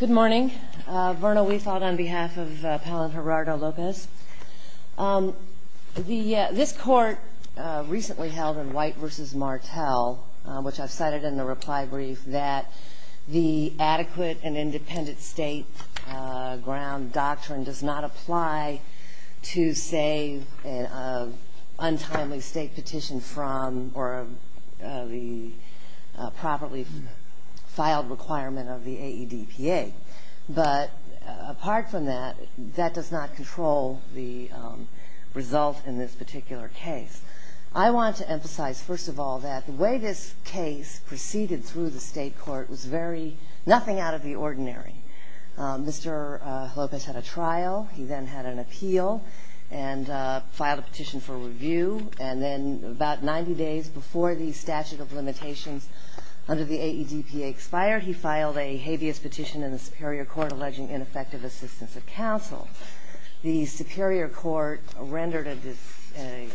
Good morning. Verna Weefald on behalf of Palen Gerardo Lopez. This court recently held in White v. Martell, which I've cited in the reply brief, that the adequate and independent state ground doctrine does not apply to save an untimely state petition from or the properly filed requirement of the AEDPA. But apart from that, that does not control the result in this particular case. I want to emphasize, first of all, that the way this case proceeded through the state court was nothing out of the ordinary. Mr. Lopez had a trial. He then had an appeal and filed a petition for review and then about 90 days before the statute of limitations under the AEDPA expired, he filed a habeas petition in the superior court alleging ineffective assistance of counsel. The superior court rendered a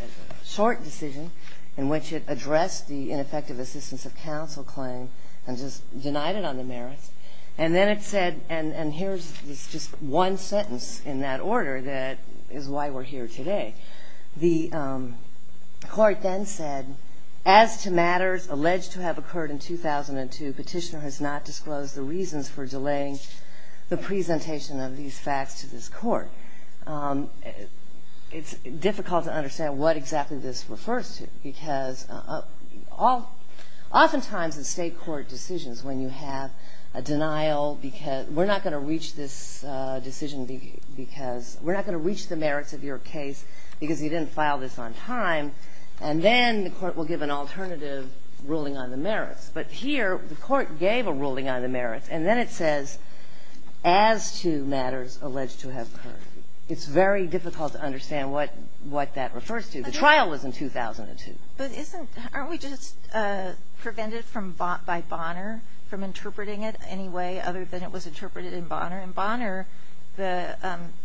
short decision in which it addressed the ineffective assistance of counsel claim and just denied it on the merits. And then it said, and here's just one sentence in that order that is why we're here today. The court then said, as to matters alleged to have occurred in 2002, petitioner has not disclosed the reasons for delaying the presentation of these facts to this court. It's difficult to understand what exactly this refers to because oftentimes in state court decisions when you have a denial, we're not going to reach this decision because we're not going to reach the merits of your case because you didn't file this on time. And then the court will give an alternative ruling on the merits. But here the court gave a ruling on the merits, and then it says, as to matters alleged to have occurred. It's very difficult to understand what that refers to. The trial was in 2002. But aren't we just prevented by Bonner from interpreting it any way other than it was interpreted in Bonner? In Bonner, the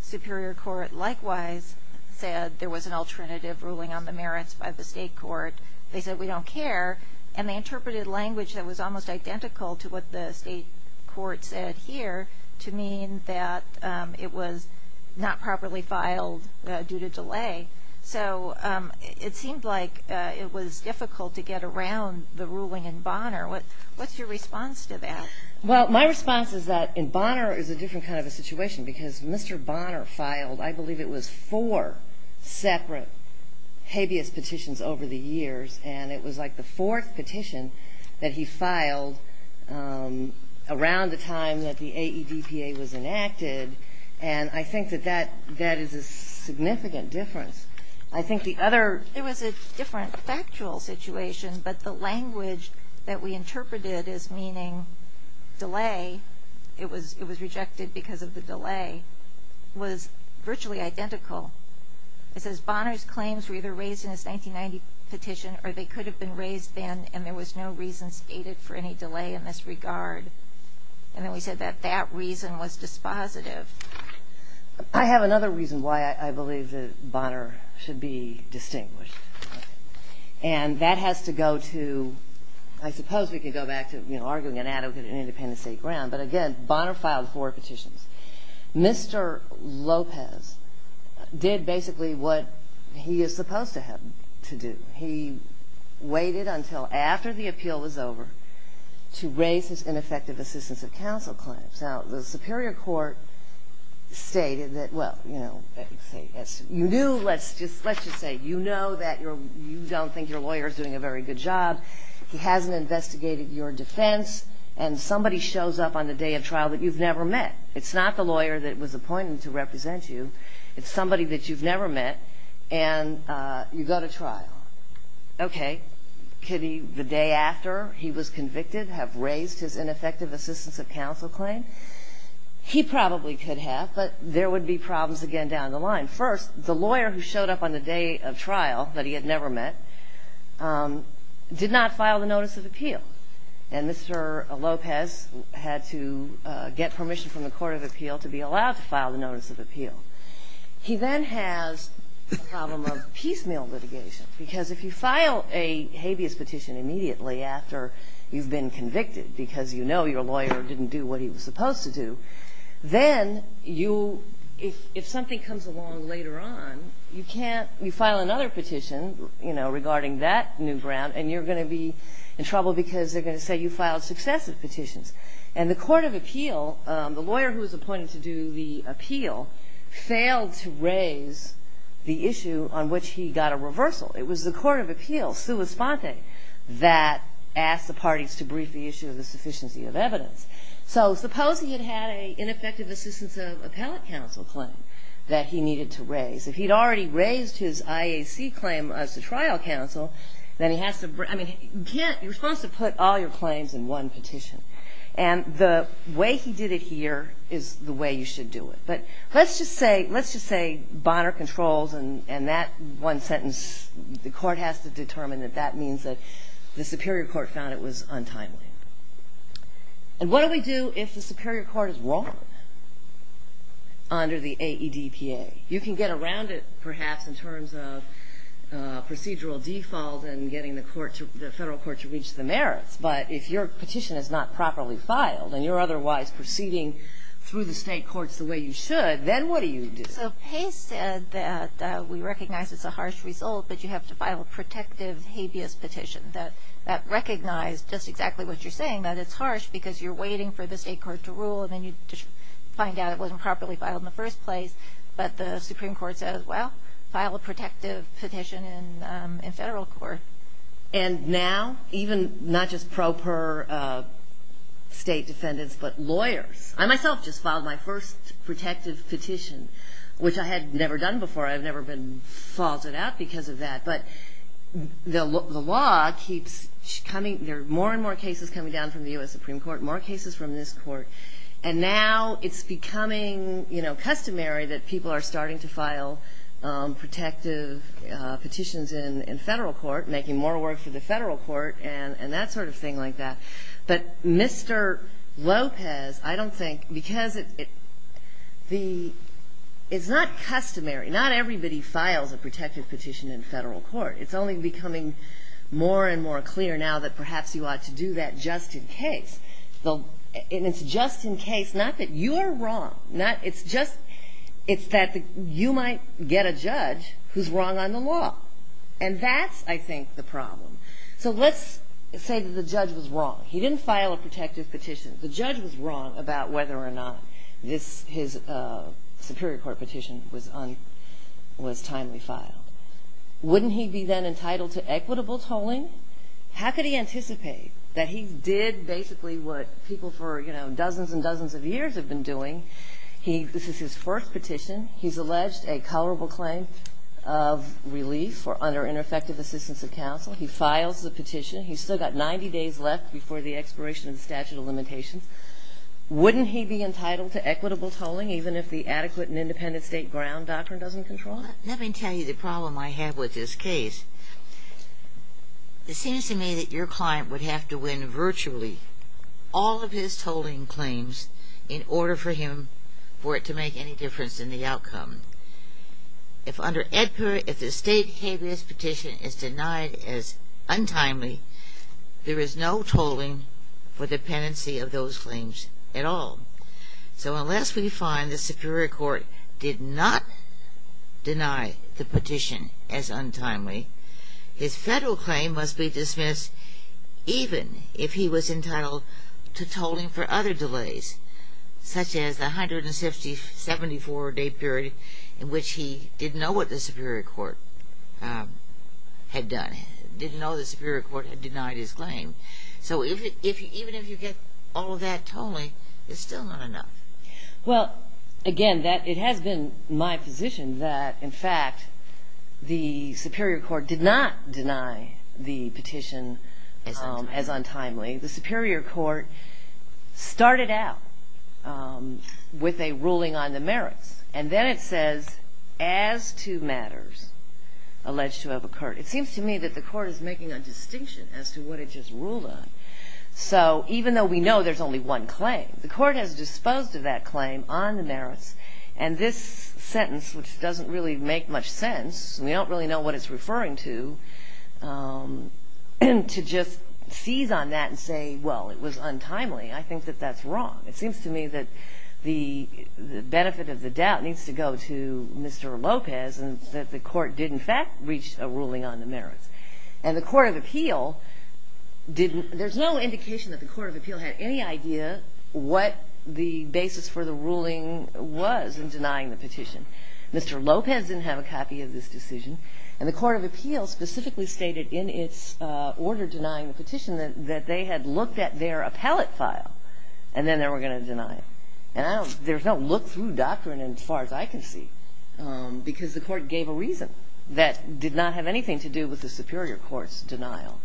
superior court likewise said there was an alternative ruling on the merits by the state court. They said, we don't care. And they interpreted language that was almost identical to what the state court said here to mean that it was not properly filed due to delay. So it seemed like it was difficult to get around the ruling in Bonner. What's your response to that? Well, my response is that in Bonner is a different kind of a situation because Mr. Bonner filed, I believe it was four separate habeas petitions over the years. And it was like the fourth petition that he filed around the time that the AEDPA was enacted. And I think that that is a significant difference. I think the other... It was a different factual situation, but the language that we interpreted as meaning delay, it was rejected because of the delay, was virtually identical. It says Bonner's claims were either raised in his 1990 petition or they could have been raised then and there was no reason stated for any delay in this regard. And then we said that that reason was dispositive. I have another reason why I believe that Bonner should be distinguished. And that has to go to, I suppose we could go back to arguing an adequate independent state ground, but again, Bonner filed four petitions. Mr. Lopez did basically what he is supposed to have to do. He waited until after the appeal was over to raise his ineffective assistance of counsel claims. Now, the Superior Court stated that, well, you know, you knew, let's just say, you know that you don't think your lawyer is doing a very good job. He hasn't investigated your defense. And somebody shows up on the day of trial that you've never met. It's not the lawyer that was appointed to represent you. It's somebody that you've never met and you go to trial. Okay. Could he, the day after he was convicted, have raised his ineffective assistance of counsel claim? He probably could have, but there would be problems again down the line. First, the lawyer who showed up on the day of trial that he had never met did not file the notice of appeal. And Mr. Lopez had to get permission from the Court of Appeal to be allowed to file the notice of appeal. He then has the problem of piecemeal litigation, because if you file a habeas petition immediately after you've been convicted because you know your lawyer didn't do what he was supposed to do, then you, if something comes along later on, you file another petition regarding that new ground and you're going to be in trouble because they're going to say you filed successive petitions. And the Court of Appeal, the lawyer who was appointed to do the appeal, failed to raise the issue on which he got a reversal. It was the Court of Appeal, sua sponte, that asked the parties to brief the issue of the sufficiency of evidence. So suppose he had had an ineffective assistance of appellate counsel claim that he needed to raise. If he'd already raised his IAC claim as a trial counsel, then he has to, I mean, you're supposed to put all your claims in one petition. And the way he did it here is the way you should do it. But let's just say Bonner controls and that one sentence, the Court has to determine that that means that the Superior Court found it was untimely. And what do we do if the Superior Court is wrong under the AEDPA? You can get around it, perhaps, in terms of procedural default and getting the federal court to reach the merits. But if your petition is not properly filed and you're otherwise proceeding through the state courts the way you should, then what do you do? So Pace said that we recognize it's a harsh result, but you have to file a protective habeas petition that recognized just exactly what you're saying, that it's harsh because you're waiting for the state court to rule and then you find out it wasn't properly filed in the first place. But the Supreme Court says, well, file a protective petition in federal court. And now, even not just pro per state defendants, but lawyers. I myself just filed my first protective petition, which I had never done before. I've never been faulted out because of that. But the law keeps coming. There are more and more cases coming down from the U.S. Supreme Court, more cases from this court. And now it's becoming customary that people are starting to file protective petitions in federal court, making more work for the federal court and that sort of thing like that. But Mr. Lopez, I don't think, because it's not customary. Not everybody files a protective petition in federal court. It's only becoming more and more clear now that perhaps you ought to do that just in case. And it's just in case, not that you are wrong. It's that you might get a judge who's wrong on the law. And that's, I think, the problem. So let's say that the judge was wrong. He didn't file a protective petition. The judge was wrong about whether or not his Superior Court petition was timely filed. Wouldn't he be then entitled to equitable tolling? How could he anticipate that he did basically what people for, you know, dozens and dozens of years have been doing? This is his first petition. He's alleged a colorable claim of relief for under ineffective assistance of counsel. He files the petition. He's still got 90 days left before the expiration of the statute of limitations. Wouldn't he be entitled to equitable tolling even if the adequate and independent state ground doctrine doesn't control it? Let me tell you the problem I have with this case. It seems to me that your client would have to win virtually all of his tolling claims in order for him for it to make any difference in the outcome. If the state habeas petition is denied as untimely, there is no tolling for dependency of those claims at all. So unless we find the Superior Court did not deny the petition as untimely, his federal claim must be dismissed even if he was entitled to tolling for other delays, such as the 174-day period in which he didn't know what the Superior Court had done, didn't know the Superior Court had denied his claim. So even if you get all of that tolling, it's still not enough. Well, again, it has been my position that, in fact, the Superior Court did not deny the petition as untimely. The Superior Court started out with a ruling on the merits, and then it says, as to matters alleged to have occurred. It seems to me that the court is making a distinction as to what it just ruled on. So even though we know there's only one claim, the court has disposed of that claim on the merits, and this sentence, which doesn't really make much sense, and we don't really know what it's referring to, to just seize on that and say, well, it was untimely, I think that that's wrong. It seems to me that the benefit of the doubt needs to go to Mr. Lopez and that the court did, in fact, reach a ruling on the merits. And the Court of Appeal didn't – there's no indication that the Court of Appeal had any idea what the basis for the ruling was in denying the petition. Mr. Lopez didn't have a copy of this decision, and the Court of Appeal specifically stated in its order denying the petition that they had looked at their appellate file, and then they were going to deny it. And I don't – there's no look-through doctrine as far as I can see, because the court gave a reason that did not have anything to do with the Superior Court's denial.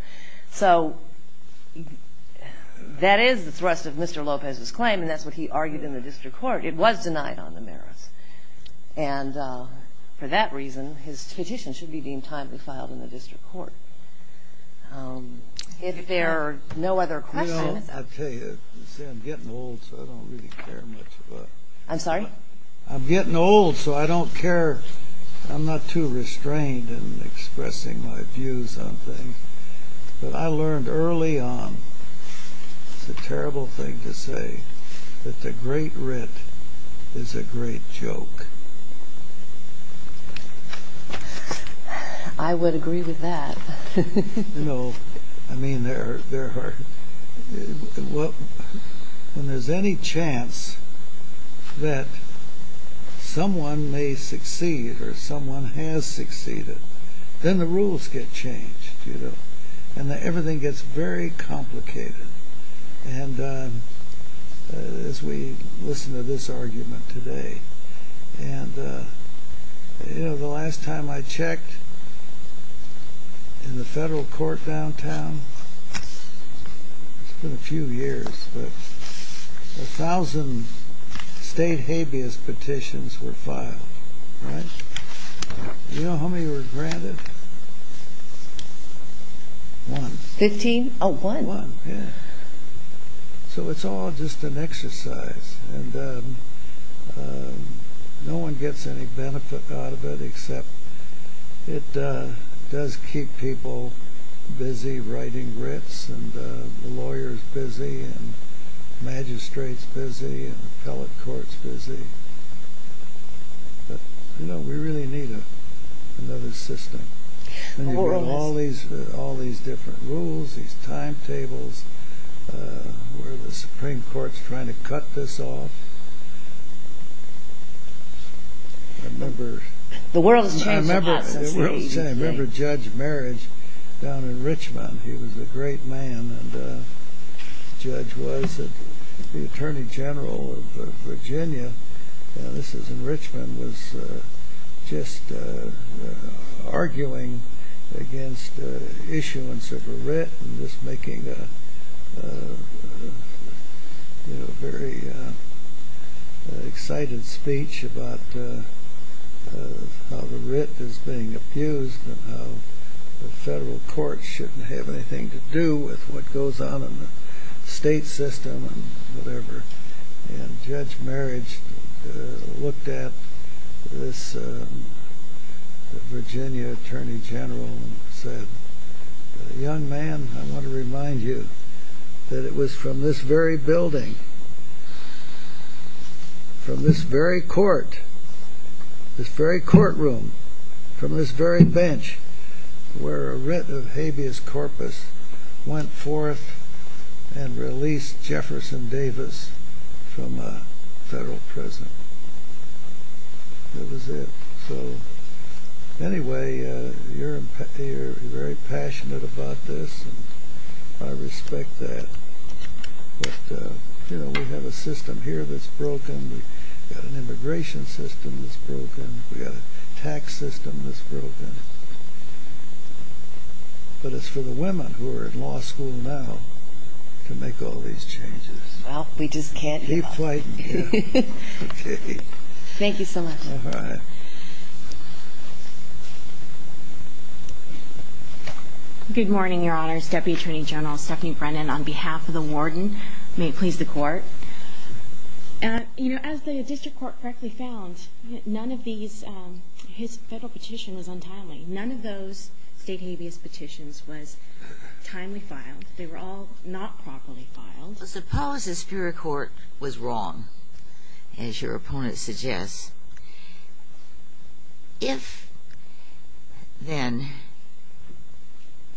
So that is the thrust of Mr. Lopez's claim, and that's what he argued in the district court. It was denied on the merits. And for that reason, his petition should be deemed timely filed in the district court. If there are no other questions – You know, I'll tell you, I'm getting old, so I don't really care much about – I'm sorry? I'm getting old, so I don't care – I'm not too restrained in expressing my views on things. But I learned early on – it's a terrible thing to say – that the Great Writ is a great joke. I would agree with that. You know, I mean, there are – when there's any chance that someone may succeed or someone has succeeded, then the rules get changed, you know, and everything gets very complicated. And as we listen to this argument today, and, you know, the last time I checked in the federal court downtown, it's been a few years, but a thousand state habeas petitions were filed, right? You know how many were granted? One. Fifteen? Oh, one. One, yeah. So it's all just an exercise. And no one gets any benefit out of it, except it does keep people busy writing writs, and the lawyers busy, and magistrates busy, and appellate courts busy. But, you know, we really need another system. And you've got all these different rules, these timetables, where the Supreme Court's trying to cut this off. I remember – The world has changed a lot since the 1880s, right? I remember Judge Marriage down in Richmond. He was a great man, and Judge was the Attorney General of Virginia. And this was in Richmond, was just arguing against issuance of a writ, and just making a, you know, very excited speech about how the writ is being abused, and how the federal courts shouldn't have anything to do with what goes on in the state system and whatever. And Judge Marriage looked at this Virginia Attorney General and said, young man, I want to remind you that it was from this very building, from this very court, this very courtroom, from this very bench, where a writ of habeas corpus went forth and released Jefferson Davis from a federal prison. That was it. So, anyway, you're very passionate about this, and I respect that. But, you know, we have a system here that's broken. We've got an immigration system that's broken. We've got a tax system that's broken. But it's for the women who are in law school now to make all these changes. Well, we just can't help. Keep fighting. Okay. Thank you so much. All right. Good morning, Your Honor, Deputy Attorney General Stephanie Brennan. On behalf of the warden, may it please the court. You know, as the district court correctly found, none of these, his federal petition was untimely. None of those state habeas petitions was timely filed. They were all not properly filed. Well, suppose the Superior Court was wrong, as your opponent suggests. If then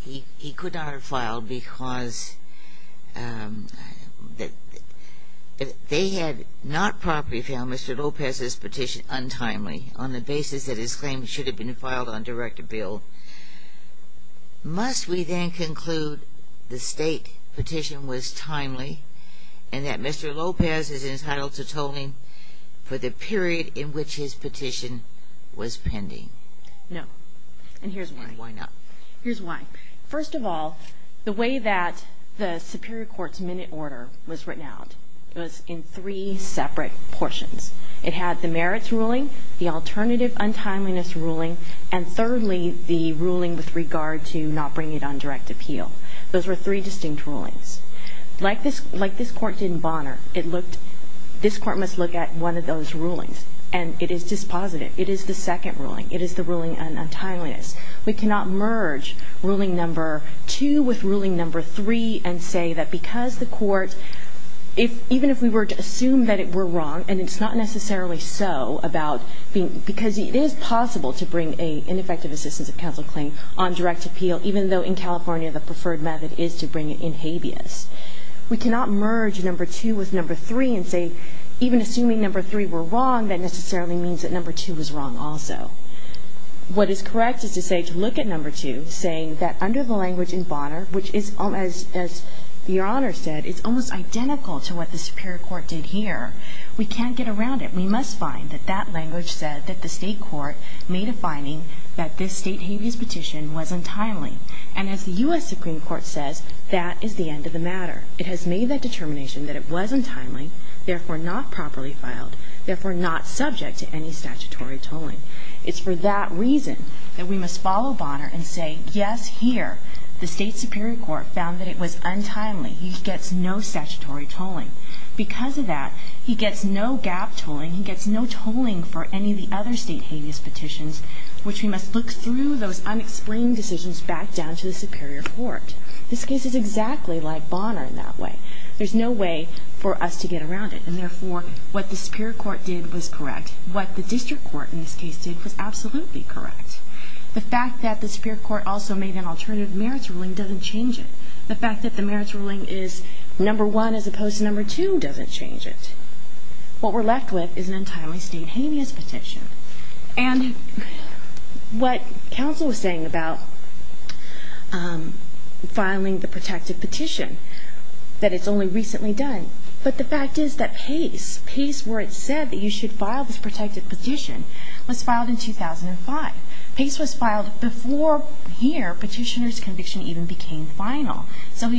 he could not have filed because they had not properly filed Mr. Lopez's petition, untimely, on the basis that his claim should have been filed on direct appeal, must we then conclude the state petition was timely, and that Mr. Lopez is entitled to tolling for the period in which his petition was pending? No. And here's why. And why not? Here's why. First of all, the way that the Superior Court's minute order was written out, it was in three separate portions. It had the merits ruling, the alternative untimeliness ruling, and thirdly, the ruling with regard to not bringing it on direct appeal. Those were three distinct rulings. Like this court did in Bonner, this court must look at one of those rulings, and it is dispositive. It is the second ruling. It is the ruling on untimeliness. We cannot merge ruling number two with ruling number three and say that because the court, even if we were to assume that it were wrong, and it's not necessarily so, because it is possible to bring an ineffective assistance of counsel claim on direct appeal, even though in California the preferred method is to bring it in habeas. We cannot merge number two with number three and say, even assuming number three were wrong, that necessarily means that number two was wrong also. What is correct is to say, to look at number two, saying that under the language in Bonner, which is, as Your Honor said, it's almost identical to what the Superior Court did here. We can't get around it. We must find that that language said that the State Court made a finding that this State habeas petition was untimely. And as the U.S. Supreme Court says, that is the end of the matter. It has made that determination that it was untimely, therefore not properly filed, therefore not subject to any statutory tolling. It's for that reason that we must follow Bonner and say, yes, here, the State Superior Court found that it was untimely. He gets no statutory tolling. Because of that, he gets no gap tolling. He gets no tolling for any of the other State habeas petitions, which we must look through those unexplained decisions back down to the Superior Court. This case is exactly like Bonner in that way. There's no way for us to get around it. And, therefore, what the Superior Court did was correct. What the District Court, in this case, did was absolutely correct. The fact that the Superior Court also made an alternative merits ruling doesn't change it. The fact that the merits ruling is number one as opposed to number two doesn't change it. What we're left with is an untimely State habeas petition. And what counsel was saying about filing the protective petition, that it's only recently done, but the fact is that PACE, PACE where it said that you should file this protective petition, was filed in 2005. PACE was filed before here petitioner's conviction even became final. So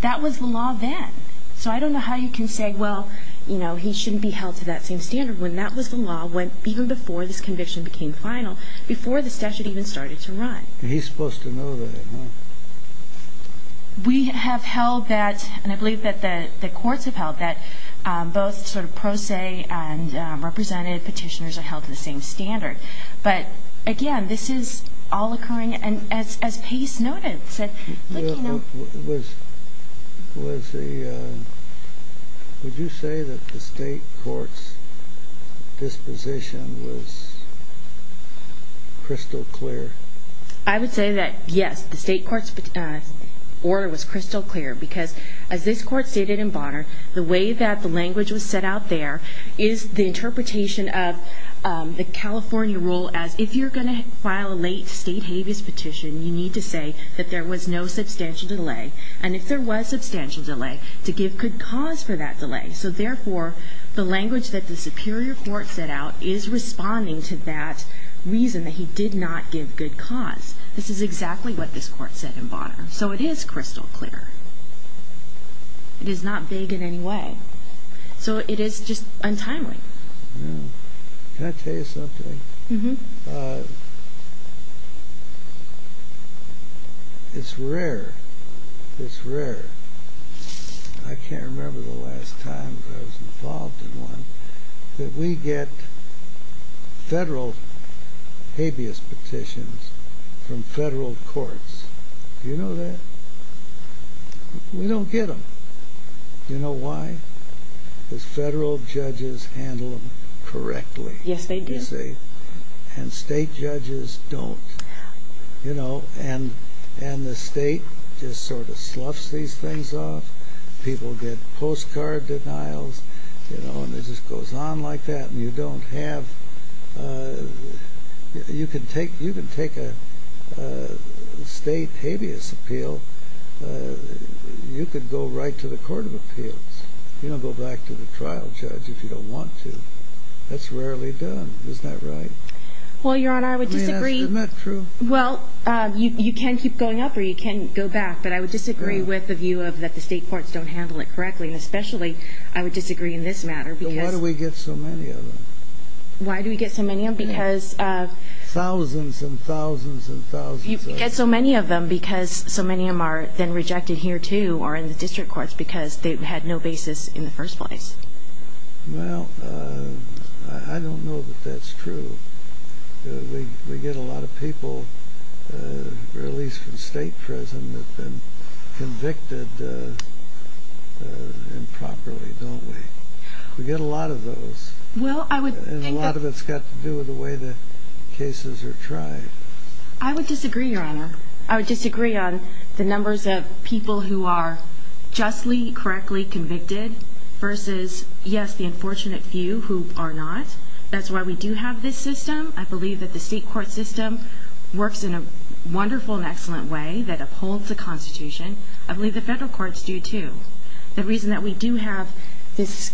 that was the law then. So I don't know how you can say, well, you know, he shouldn't be held to that same standard, when that was the law even before this conviction became final, before the statute even started to run. He's supposed to know that, no? We have held that, and I believe that the courts have held that, both sort of pro se and representative petitioners are held to the same standard. But, again, this is all occurring as PACE noted. Was the, would you say that the State court's disposition was crystal clear? I would say that, yes, the State court's order was crystal clear, because as this court stated in Bonner, the way that the language was set out there is the interpretation of the California rule as, if you're going to file a late State habeas petition, you need to say that there was no substantial delay. And if there was substantial delay, to give good cause for that delay. So, therefore, the language that the Superior Court set out is responding to that reason, that he did not give good cause. This is exactly what this court said in Bonner. So it is crystal clear. It is not vague in any way. So it is just untimely. Can I tell you something? Uh-huh. It's rare, it's rare. I can't remember the last time I was involved in one, that we get federal habeas petitions from federal courts. Do you know that? We don't get them. Do you know why? Because federal judges handle them correctly. Yes, they do. And state judges don't. And the state just sort of sloughs these things off. People get postcard denials. And it just goes on like that, and you don't have... You can take a state habeas appeal. You could go right to the court of appeals. You don't go back to the trial judge if you don't want to. That's rarely done. Isn't that right? Well, Your Honor, I would disagree. I mean, that's not true. Well, you can keep going up or you can go back. But I would disagree with the view that the state courts don't handle it correctly, and especially I would disagree in this matter because... Then why do we get so many of them? Why do we get so many of them? Because... Thousands and thousands and thousands of them. Why do we get so many of them? Because so many of them are then rejected here, too, or in the district courts because they had no basis in the first place. Well, I don't know that that's true. We get a lot of people released from state prison that have been convicted improperly, don't we? We get a lot of those. Well, I would think that... And a lot of it's got to do with the way the cases are tried. I would disagree, Your Honor. I would disagree on the numbers of people who are justly, correctly convicted versus, yes, the unfortunate few who are not. That's why we do have this system. I believe that the state court system works in a wonderful and excellent way that upholds the Constitution. I believe the federal courts do, too. The reason that we do have this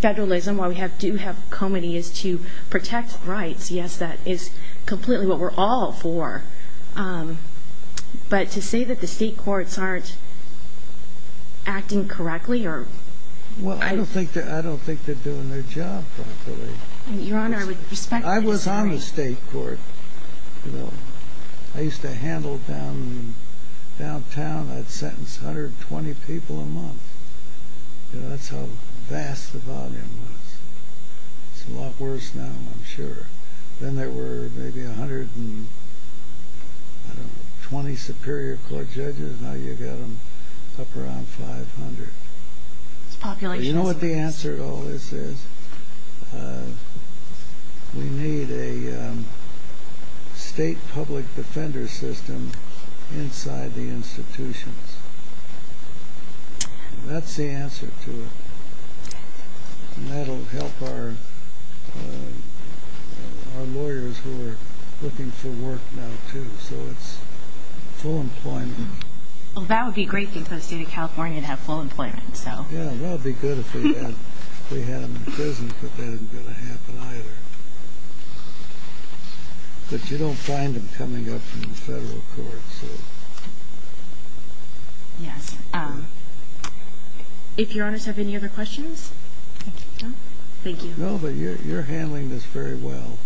federalism, why we do have comity, is to protect rights. Yes, that is completely what we're all for. But to say that the state courts aren't acting correctly or... Well, I don't think they're doing their job properly. Your Honor, I would respect that. I was on the state court. I used to handle downtown. I'd sentence 120 people a month. That's how vast the volume was. It's a lot worse now, I'm sure. Then there were maybe 120 Superior Court judges. Now you've got them up around 500. You know what the answer to all this is? We need a state public defender system inside the institutions. That's the answer to it. That will help our lawyers who are looking for work now, too. So it's full employment. Well, that would be great if the state of California would have full employment. Yeah, that would be good if we had them in prison, but that isn't going to happen either. But you don't find them coming up from the federal courts. Yes. If Your Honors have any other questions? No, but you're handling this very well.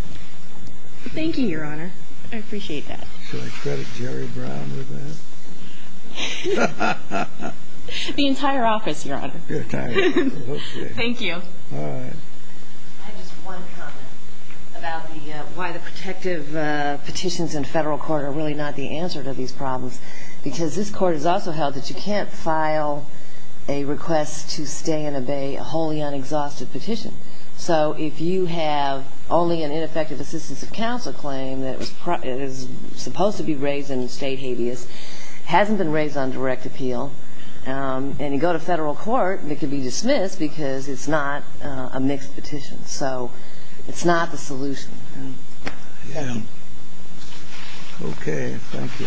Thank you, Your Honor. I appreciate that. Should I credit Jerry Brown with that? The entire office, Your Honor. The entire office. Okay. Thank you. All right. I had just one comment about why the protective petitions in federal court are really not the answer to these problems. Because this court has also held that you can't file a request to stay and obey a wholly unexhausted petition. So if you have only an ineffective assistance of counsel claim that is supposed to be raised in state habeas, hasn't been raised on direct appeal, and you go to federal court, it can be dismissed because it's not a mixed petition. So it's not the solution. Yeah. Okay. Thank you.